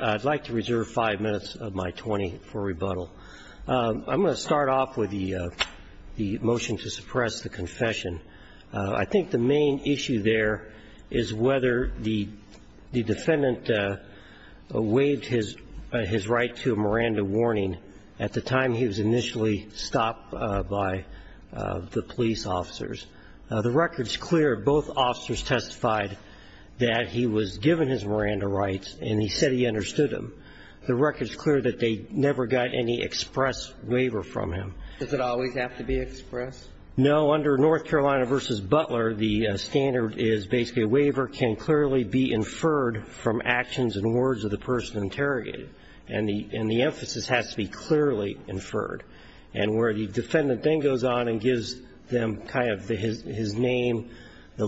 I'd like to reserve five minutes of my 20 for rebuttal. I'm going to start off with the motion to suppress the confession. I think the main issue there is whether the defendant waived his right to a Miranda warning at the time he was initially stopped by the police. The record's clear both officers testified that he was given his Miranda rights and he said he understood them. The record's clear that they never got any express waiver from him. Does it always have to be express? No, under North Carolina v. Butler, the standard is basically a waiver can clearly be inferred from actions and words of the person interrogated. And the emphasis has to be clearly inferred. And where the defendant then goes on and gives them kind of his name or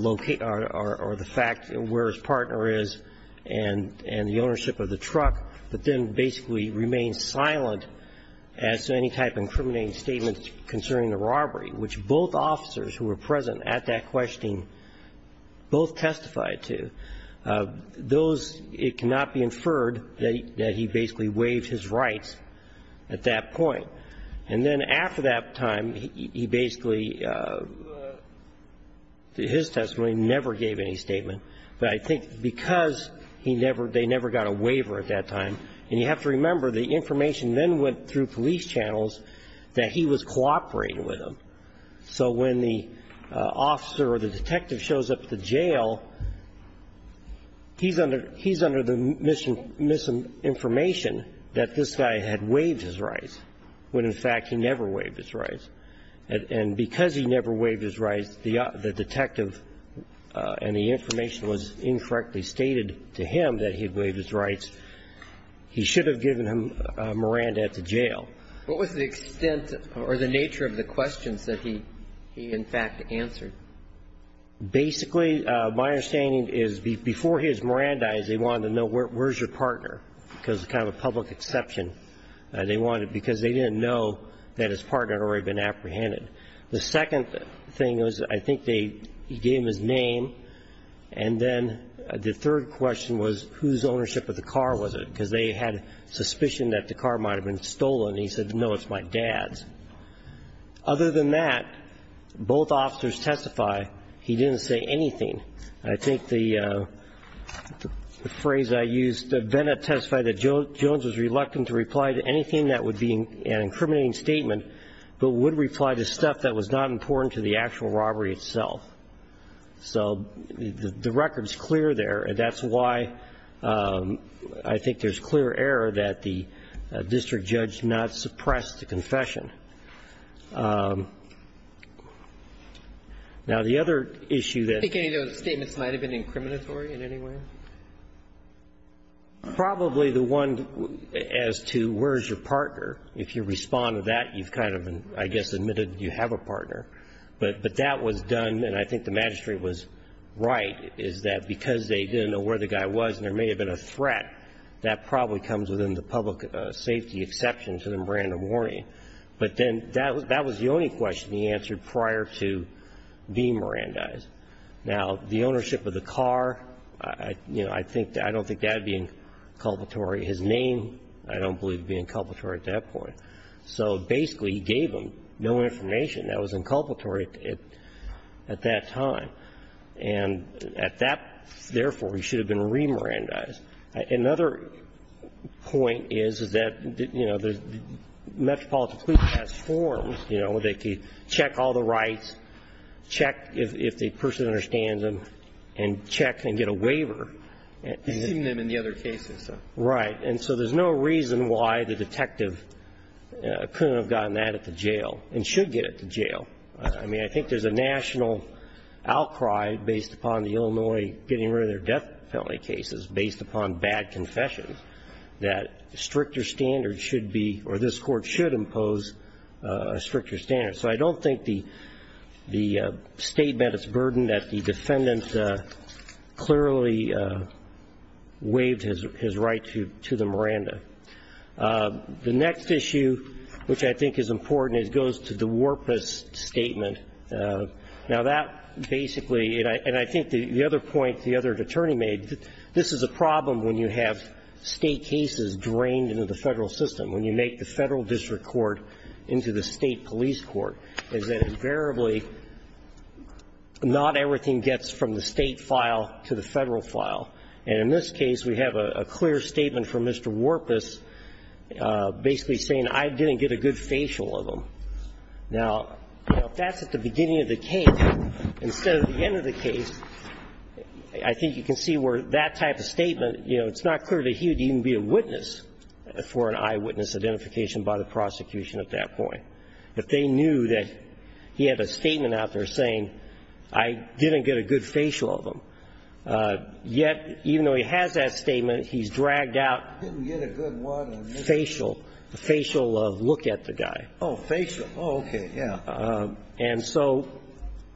the fact where his partner is and the ownership of the truck, but then basically remains silent as to any type of incriminating statement concerning the robbery, which both officers who were present at that questioning both testified to. Those, it cannot be inferred that he basically waived his rights at that point. And then after that time, he basically, his testimony never gave any statement. But I think because he never, they never got a waiver at that time. And you have to remember the information then went through police channels that he was cooperating with them. So when the officer or the detective shows up at the jail, he's under, he's under the misinformation that this guy had waived his rights, when in fact he never waived his rights. And because he never waived his rights, the detective and the information was incorrectly stated to him that he had waived his rights, he should have given him Miranda at the jail. What was the extent or the nature of the questions that he in fact answered? Basically, my understanding is before he was Mirandized, they wanted to know where's your partner, because it's kind of a public exception. They wanted it because they didn't know that his partner had already been apprehended. The second thing was I think they, he gave them his name, and then the third question was whose ownership of the car was it, because they had suspicion that the car might have been stolen. He said, no, it's my dad's. Other than that, both officers testify he didn't say anything. I think the phrase I used, Bennett testified that Jones was reluctant to reply to anything that would be an incriminating statement, but would reply to stuff that was not important to the actual robbery itself. So the record's clear there, and that's why I think there's clear error that the district judge not suppressed the confession. Now, the other issue that ---- Do you think any of those statements might have been incriminatory in any way? Probably the one as to where's your partner. If you respond to that, you've kind of, I guess, admitted you have a partner. But that was done, and I think the magistrate was right, is that because they didn't know where the guy was and there may have been a threat, that probably comes within the public safety exception to the random warning. But then that was the only question he answered prior to being Mirandized. Now, the ownership of the car, you know, I don't think that would be inculpatory. His name I don't believe would be inculpatory at that point. So basically he gave them no information. That was inculpatory at that time. And at that, therefore, he should have been re-Mirandized. Another point is, is that, you know, the Metropolitan Police has forms, you know, where they can check all the rights, check if the person understands them, and check and get a waiver. You've seen them in the other cases, though. Right. And so there's no reason why the detective couldn't have gotten that at the jail and should get it at the jail. I mean, I think there's a national outcry based upon the Illinois getting rid of their death penalty cases based upon bad confessions that stricter standards should be, or this Court should impose a stricter standard. So I don't think the statement is burdened that the defendant clearly waived his right to the Miranda. The next issue, which I think is important, goes to the Warpus statement. Now, that basically, and I think the other point the other attorney made, this is a problem when you have State cases drained into the Federal system, when you make the Federal District Court into the State Police Court, is that invariably not everything gets from the State file to the Federal file. And in this case, we have a clear statement from Mr. Warpus basically saying I didn't get a good facial of him. Now, that's at the beginning of the case. Instead of the end of the case, I think you can see where that type of statement, you know, it's not clear that he would even be a witness for an eyewitness identification by the prosecution at that point. But they knew that he had a statement out there saying I didn't get a good facial of him. Yet, even though he has that statement, he's dragged out facial, facial of look at the guy. Oh, facial. Oh, okay. Yeah. And so,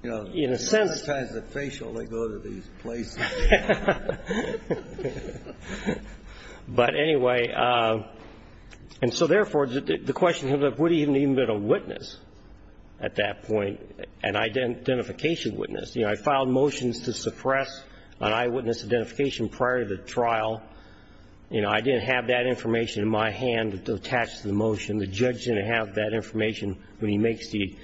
you know, in a sense. A lot of times with facial, they go to these places. But anyway, and so therefore, the question comes up, would he have even been a witness at that point, an identification witness? You know, I filed motions to suppress an eyewitness identification prior to the trial. You know, I didn't have that information in my hand to attach to the motion. The judge didn't have that information when he makes the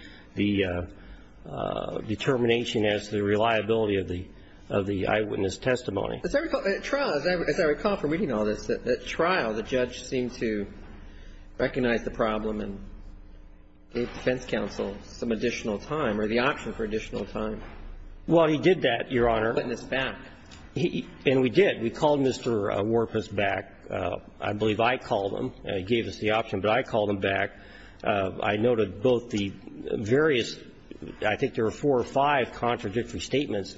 determination as to the reliability of the eyewitness testimony. At trial, as I recall from reading all this, at trial, the judge seemed to recognize the problem and gave defense counsel some additional time or the option for additional time. Well, he did that, Your Honor. He called the witness back. And we did. We called Mr. Warpus back. I believe I called him. He gave us the option. But I called him back. I noted both the various, I think there were four or five contradictory statements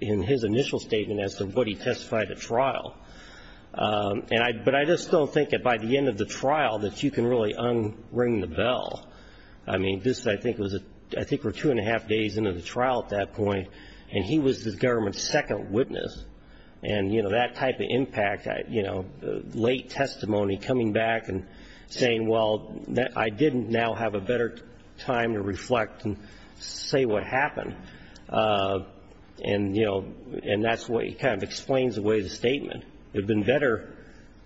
in his initial statement as to what he testified at trial. But I just don't think that by the end of the trial that you can really unring the bell. I mean, this I think was, I think we're two and a half days into the trial at that point, and he was the government's second witness. And, you know, that type of impact, you know, late testimony, coming back and saying, well, I didn't now have a better time to reflect and say what happened. And, you know, and that's what kind of explains the way the statement. It would have been better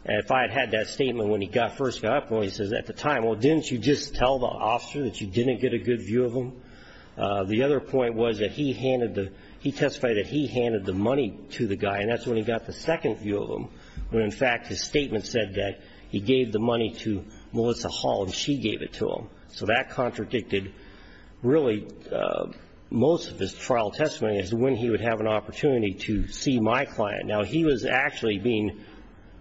if I had had that statement when he first got up. Well, he says at the time, well, didn't you just tell the officer that you didn't get a good view of him? The other point was that he handed the he testified that he handed the money to the guy, and that's when he got the second view of him, when, in fact, his statement said that he gave the money to Melissa Hall and she gave it to him. So that contradicted really most of his trial testimony, is when he would have an opportunity to see my client. Now, he was actually being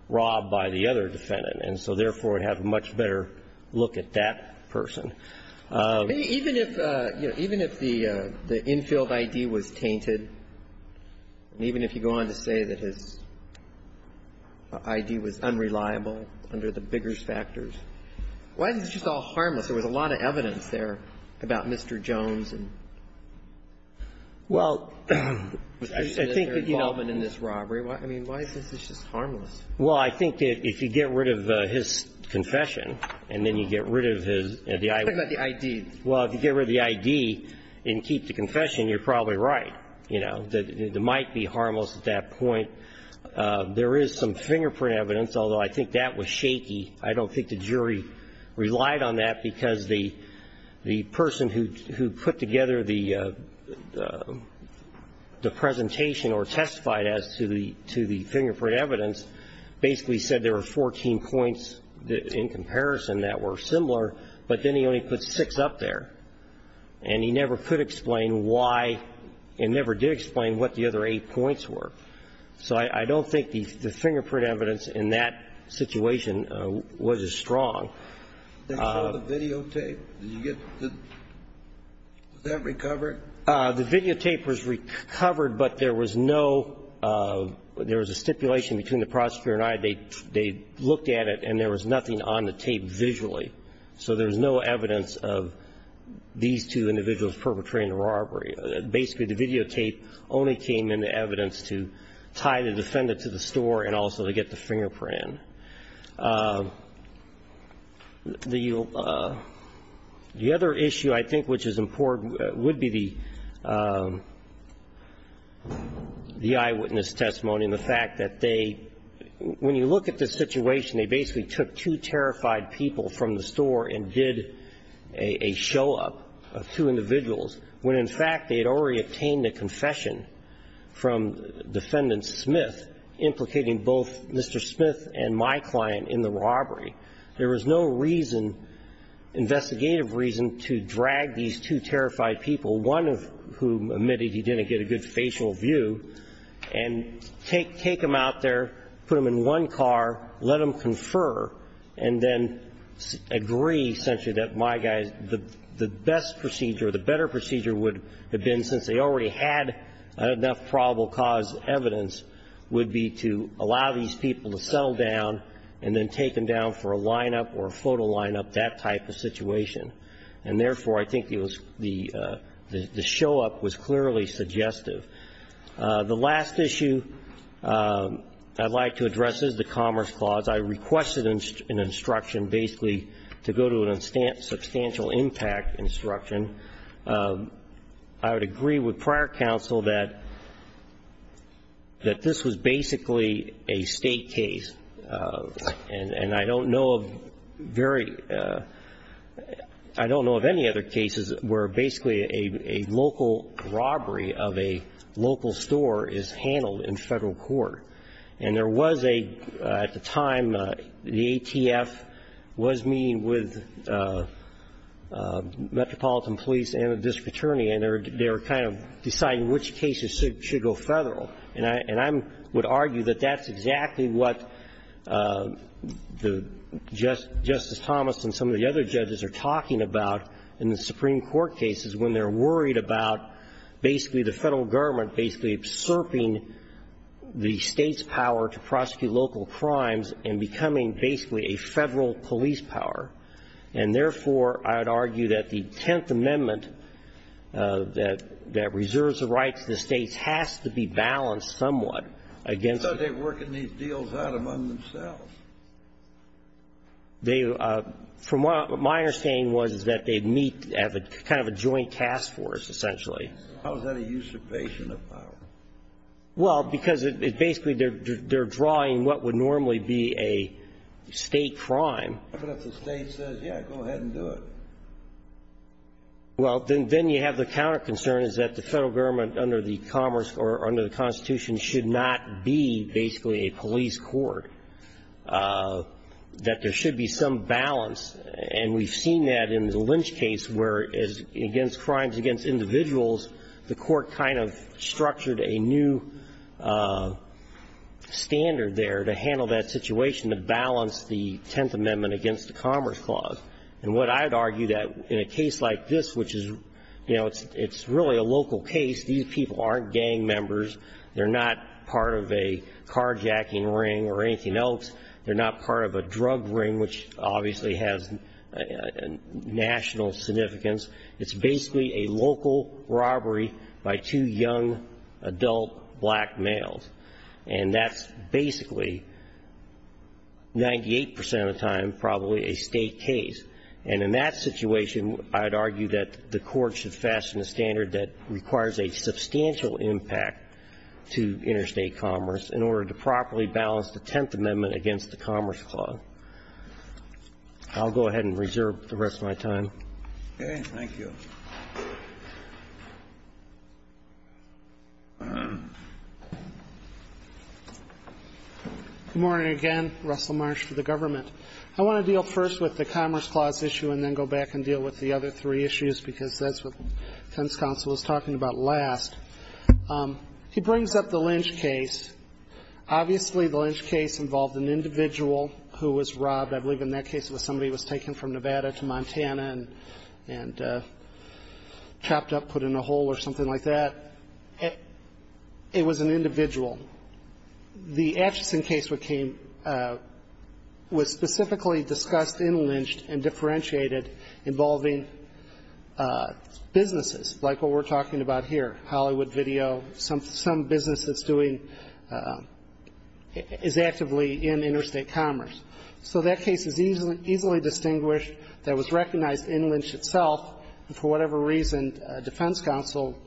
robbed by the other defendant, and so therefore would have a much better look at that person. Even if, you know, even if the infield I.D. was tainted, and even if you go on to say that his I.D. was unreliable under the Biggers factors, why is this just all harmless? There was a lot of evidence there about Mr. Jones and his involvement in this robbery. I mean, why is this just harmless? Well, I think that if you get rid of his confession and then you get rid of his I.D. What about the I.D.? Well, if you get rid of the I.D. and keep the confession, you're probably right. You know, it might be harmless at that point. There is some fingerprint evidence, although I think that was shaky. I don't think the jury relied on that because the person who put together the presentation or testified as to the fingerprint evidence basically said there were 14 points in comparison that were similar, but then he only put six up there. And he never could explain why and never did explain what the other eight points were. So I don't think the fingerprint evidence in that situation was as strong. Did you show the videotape? Did you get the – was that recovered? The videotape was recovered, but there was no – there was a stipulation between the prosecutor and I. They looked at it, and there was nothing on the tape visually. So there was no evidence of these two individuals perpetrating the robbery. Basically, the videotape only came in the evidence to tie the defendant to the store and also to get the fingerprint. The other issue I think which is important would be the eyewitness testimony and the fact that they – when you look at the situation, they basically took two terrified people from the store and did a show-up of two individuals, when in fact they had already in the robbery. There was no reason, investigative reason, to drag these two terrified people, one of whom admitted he didn't get a good facial view, and take them out there, put them in one car, let them confer, and then agree essentially that my guys – the best procedure, the better procedure would have been, since they already had enough probable cause evidence, would be to allow these people to settle down and then take them down for a line-up or a photo line-up, that type of situation. And therefore, I think the show-up was clearly suggestive. The last issue I'd like to address is the Commerce Clause. I requested an instruction basically to go to a substantial impact instruction. I would agree with prior counsel that this was basically a state case, and I don't know of very – I don't know of any other cases where basically a local robbery of a local store is handled in federal court. And there was a – at the time, the ATF was meeting with Metropolitan Police and the district attorney, and they were kind of deciding which cases should go federal. And I would argue that that's exactly what Justice Thomas and some of the other judges are talking about in the Supreme Court cases when they're worried about basically the federal government basically usurping the state's power to prosecute local crimes and becoming basically a federal police power. And therefore, I would argue that the Tenth Amendment that reserves the rights of the states has to be balanced somewhat against the – I thought they were working these deals out among themselves. They – from what my understanding was is that they meet at a kind of a joint task force, essentially. How is that a usurpation of power? Well, because it basically – they're drawing what would normally be a state crime. But if the state says, yeah, go ahead and do it. Well, then you have the counter concern is that the federal government under the commerce or under the Constitution should not be basically a police court, that there should be some balance. And we've seen that in the Lynch case where, against crimes against individuals, the court kind of structured a new standard there to handle that situation, to balance the Tenth Amendment against the Commerce Clause. And what I would argue that in a case like this, which is – you know, it's really a local case. These people aren't gang members. They're not part of a carjacking ring or anything else. They're not part of a drug ring, which obviously has national significance. It's basically a local robbery by two young adult black males. And that's basically 98 percent of the time probably a state case. And in that situation, I'd argue that the court should fasten a standard that requires a substantial impact to interstate commerce in order to properly balance the Tenth Amendment against the Commerce Clause. I'll go ahead and reserve the rest of my time. Okay. Thank you. Good morning again. Russell Marsh for the government. I want to deal first with the Commerce Clause issue and then go back and deal with the other three issues because that's what the defense counsel was talking about last. He brings up the Lynch case. Obviously, the Lynch case involved an individual who was robbed. I believe in that case it was somebody who was taken from Nevada to Montana and chopped up, put in a hole or something like that. It was an individual. The Atchison case became – was specifically discussed in Lynch and differentiated involving businesses, like what we're talking about here, Hollywood Video, some business that's doing – is actively in interstate commerce. So that case is easily distinguished. That was recognized in Lynch itself. And for whatever reason, defense counsel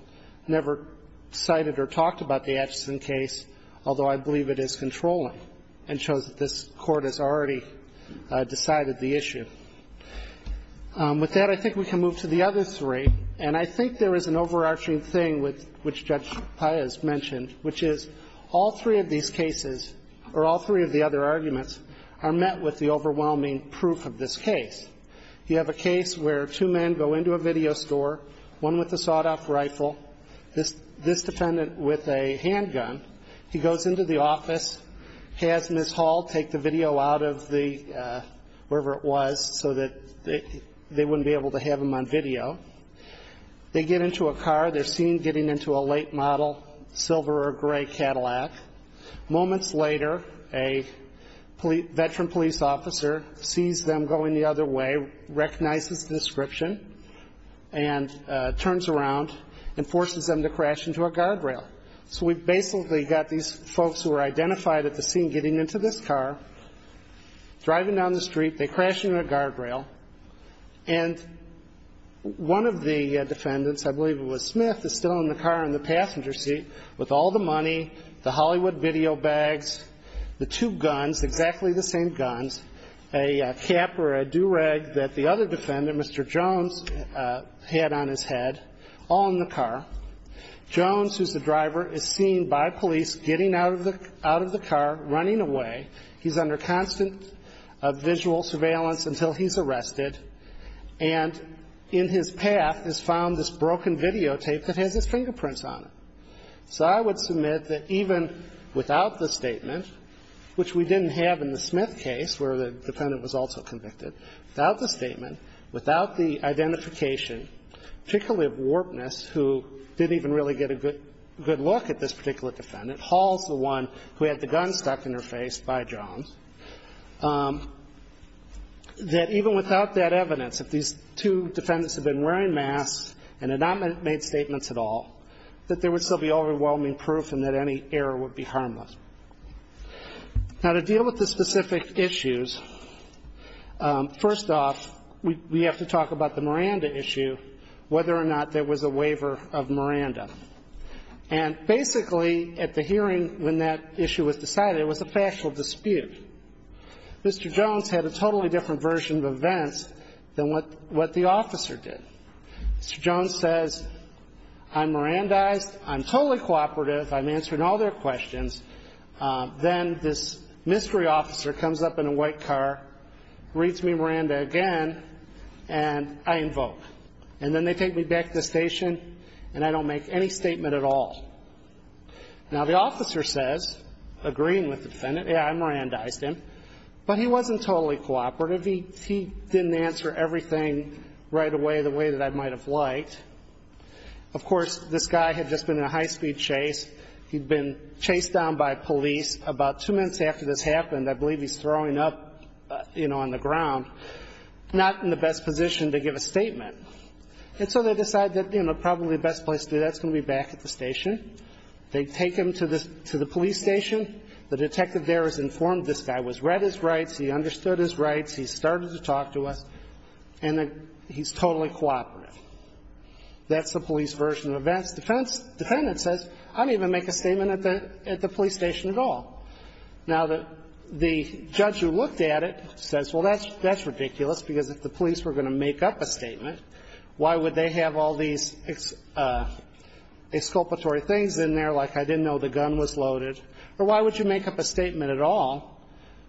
never cited or talked about the Atchison case, although I believe it is controlling and shows that this Court has already decided the issue. With that, I think we can move to the other three. And I think there is an overarching thing which Judge Paya has mentioned, which is all three of these cases, or all three of the other arguments, are met with the overwhelming proof of this case. You have a case where two men go into a video store, one with a sawed-off rifle, this defendant with a handgun. He goes into the office, has Ms. Hall take the video out of the – wherever it was, so that they wouldn't be able to have him on video. They get into a car. They're seen getting into a late model silver or gray Cadillac. Moments later, a veteran police officer sees them going the other way, recognizes the description, and turns around and forces them to crash into a guardrail. So we've basically got these folks who are identified at the scene getting into this car, driving down the street. They crash into a guardrail. And one of the defendants, I believe it was Smith, is still in the car in the passenger seat with all the money, the Hollywood video bags, the two guns, exactly the same guns, a cap or a do-rag that the other defendant, Mr. Jones, had on his head, all in the car. Jones, who's the driver, is seen by police getting out of the car, running away. He's under constant visual surveillance until he's arrested. And in his path is found this broken videotape that has his fingerprints on it. So I would submit that even without the statement, which we didn't have in the Smith case where the defendant was also convicted, without the statement, without the evidence, if these two defendants had been wearing masks and had not made statements at all, that there would still be overwhelming proof and that any error would be harmless. Now, to deal with the specific issues, first off, we have to talk about the Miranda issue, whether or not there was a waiver of Miranda's warrant, whether or not there was a waiver of the warrant. And basically, at the hearing when that issue was decided, it was a factual dispute. Mr. Jones had a totally different version of events than what the officer did. Mr. Jones says, I'm Mirandized, I'm totally cooperative, I'm answering all their questions. Then this mystery officer comes up in a white car, reads me Miranda again, and I invoke. And then they take me back to the station, and I don't make any statement at all. Now, the officer says, agreeing with the defendant, yeah, I Mirandized him, but he wasn't totally cooperative. He didn't answer everything right away the way that I might have liked. Of course, this guy had just been in a high-speed chase. He'd been chased down by police. About two minutes after this happened, I believe he's throwing up, you know, on the And so they decide that, you know, probably the best place to do that is going to be back at the station. They take him to the police station. The detective there has informed this guy, was read his rights, he understood his rights, he's started to talk to us, and he's totally cooperative. That's the police version of events. The defendant says, I didn't even make a statement at the police station at all. Now, the judge who looked at it says, well, that's ridiculous, because if the police were going to make up a statement, why would they have all these exculpatory things in there, like I didn't know the gun was loaded, or why would you make up a statement at all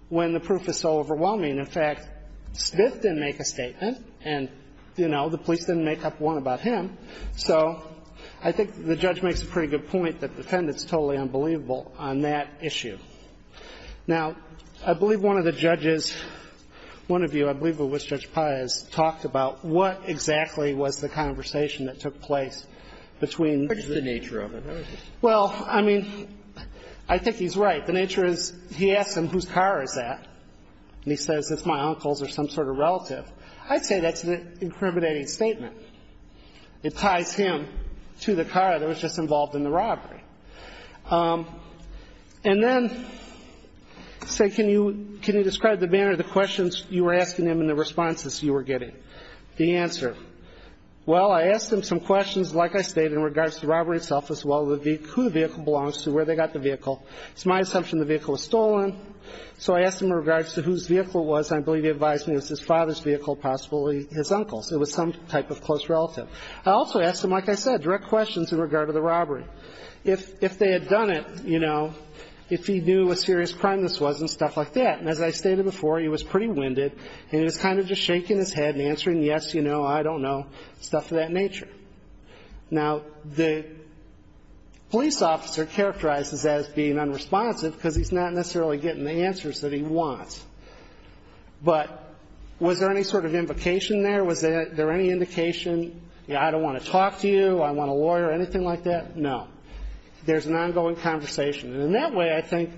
when the proof is so overwhelming? In fact, Smith didn't make a statement, and, you know, the police didn't make up one about him. So I think the judge makes a pretty good point that the defendant's totally unbelievable on that issue. Now, I believe one of the judges, one of you, I believe it was Judge Paez, talked about what exactly was the conversation that took place between the nature of it. Well, I mean, I think he's right. The nature is he asks him whose car is that, and he says it's my uncle's or some sort of relative. I'd say that's an incriminating statement. It ties him to the car that was just involved in the robbery. And then say, can you describe the manner of the questions you were asking him and the responses you were getting? The answer, well, I asked him some questions, like I stated, in regards to the robbery itself as well as who the vehicle belongs to, where they got the vehicle. It's my assumption the vehicle was stolen. So I asked him in regards to whose vehicle it was, and I believe he advised me it was his father's vehicle, possibly his uncle's. It was some type of close relative. I also asked him, like I said, direct questions in regard to the robbery. If they had done it, you know, if he knew what a serious crime this was and stuff like that. And as I stated before, he was pretty winded, and he was kind of just shaking his head and answering yes, you know, I don't know, stuff of that nature. Now, the police officer characterizes that as being unresponsive because he's not necessarily getting the answers that he wants. But was there any sort of invocation there? Was there any indication, you know, I don't want to talk to you, I want a lawyer, anything like that? No. There's an ongoing conversation. And in that way, I think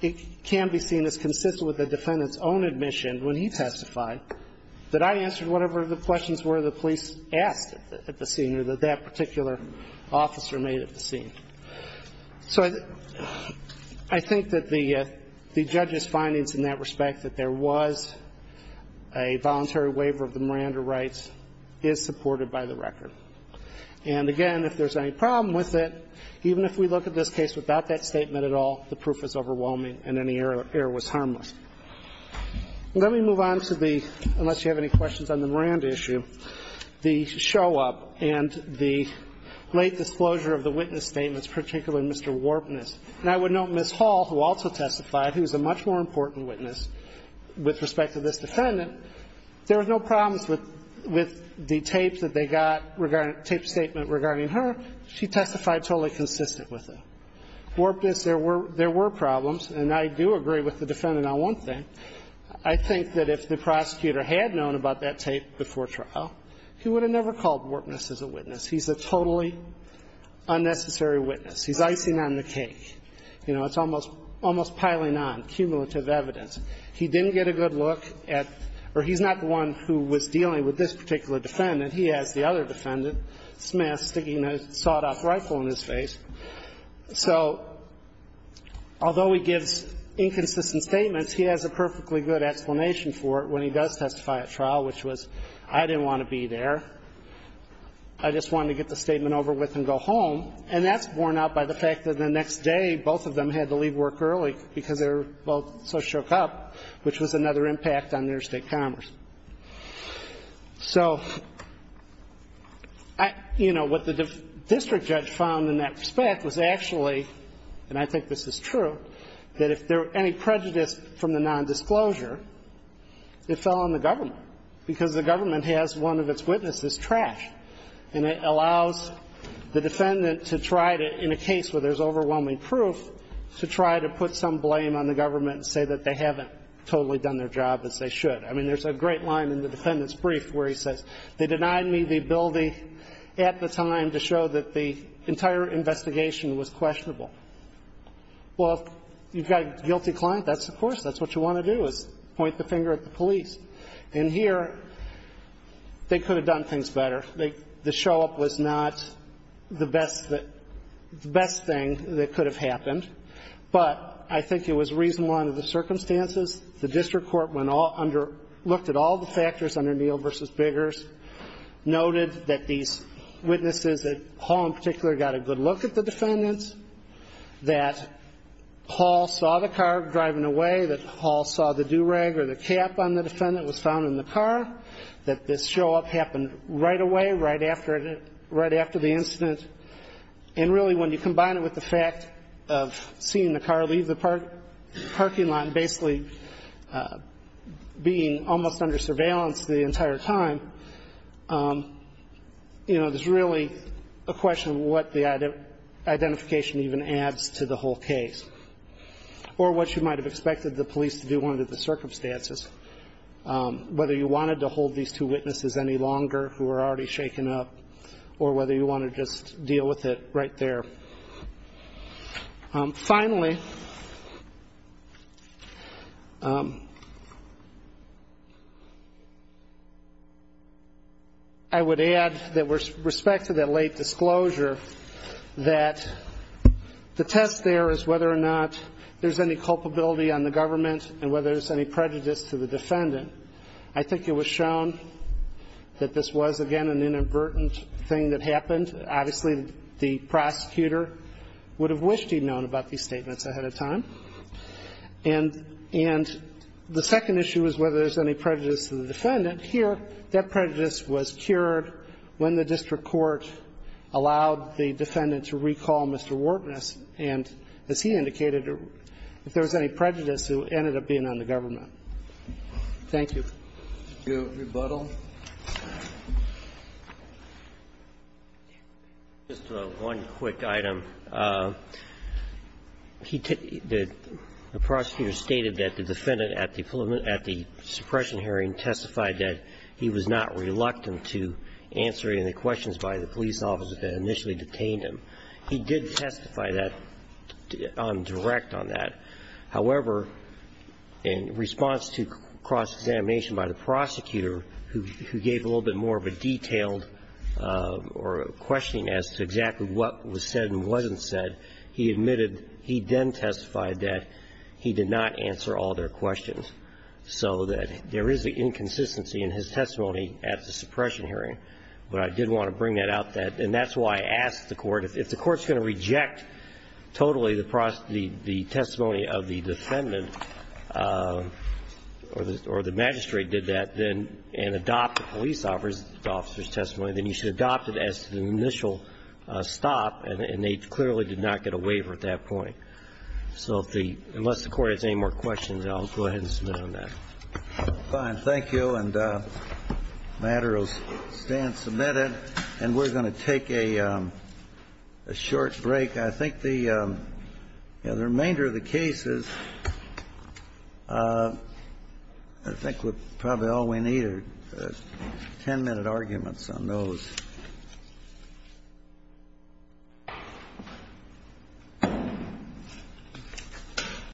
it can be seen as consistent with the defendant's own admission when he testified that I answered whatever the questions were the police asked at the scene or that that particular officer made at the scene. So I think that the judge's findings in that respect that there was a voluntary waiver of the Miranda rights is supported by the record. And, again, if there's any problem with it, even if we look at this case without that statement at all, the proof is overwhelming and any error was harmless. Let me move on to the, unless you have any questions on the Miranda issue, the show-up and the late disclosure of the witness statements, particularly Mr. Warbness. And I would note Ms. Hall, who also testified, who's a much more important witness with respect to this defendant, there was no problems with the tapes that they got, tape statement regarding her. She testified totally consistent with them. Warbness, there were problems. And I do agree with the defendant on one thing. I think that if the prosecutor had known about that tape before trial, he would have never called Warbness as a witness. He's a totally unnecessary witness. He's icing on the cake. You know, it's almost piling on, cumulative evidence. He didn't get a good look at, or he's not the one who was dealing with this particular defendant, he has the other defendant smashed, sticking a sawed-off rifle in his face. So although he gives inconsistent statements, he has a perfectly good explanation for it when he does testify at trial, which was, I didn't want to be there. I just wanted to get the statement over with and go home. And that's borne out by the fact that the next day, both of them had to leave work early because they were both so choked up, which was another impact on interstate commerce. So, you know, what the district judge found in that respect was actually, and I think this is true, that if there were any prejudice from the nondisclosure, it fell on the government because the government has one of its witnesses trashed. And it allows the defendant to try to, in a case where there's overwhelming proof, to try to put some blame on the government and say that they haven't totally done their job as they should. I mean, there's a great line in the defendant's brief where he says, they denied me the ability at the time to show that the entire investigation was questionable. Well, if you've got a guilty client, that's, of course, that's what you want to do is point the finger at the police. And here, they could have done things better. The show-up was not the best thing that could have happened, but I think it was reasonable under the circumstances. The district court looked at all the factors under Neal v. Biggers, noted that these witnesses, that Hall in particular, got a good look at the defendants, that Hall saw the car driving away, that Hall saw the do-rag or the cap on the defendant was found in the car, that this show-up happened right away, right after the incident. And really, when you combine it with the fact of seeing the car leave the parking lot and basically being almost under surveillance the entire time, you know, there's really a question of what the identification even adds to the whole case or what you might have expected the police to do under the circumstances, whether you wanted to hold these two witnesses any longer who were already shaken up or whether you wanted to just deal with it right there. Finally, I would add that with respect to that late disclosure, that the test there is whether or not there's any culpability on the government and whether there's any prejudice to the defendant. I think it was shown that this was, again, an inadvertent thing that happened. Obviously, the prosecutor would have wished he'd known about these statements ahead of time. And the second issue is whether there's any prejudice to the defendant. Here, that prejudice was cured when the district court allowed the defendant to recall Mr. Wartness, and as he indicated, if there was any prejudice, it ended up being on the government. Thank you. Go to rebuttal. Just one quick item. The prosecutor stated that the defendant at the suppression hearing testified that he was not reluctant to answer any questions by the police officer that initially detained him. He did testify that on direct on that. However, in response to cross-examination by the prosecutor who gave a little bit more of a detailed or questioning as to exactly what was said and wasn't said, he admitted he then testified that he did not answer all their questions, so that there is an inconsistency in his testimony at the suppression hearing. But I did want to bring that out, and that's why I asked the Court, if the Court's going to reject totally the testimony of the defendant, or the magistrate did that, and adopt the police officer's testimony, then you should adopt it as an initial stop, and they clearly did not get a waiver at that point. So unless the Court has any more questions, I'll go ahead and submit on that. Fine. Thank you. And the matter will stand submitted, and we're going to take a short break. I think the remainder of the case is, I think probably all we need are 10-minute arguments on those.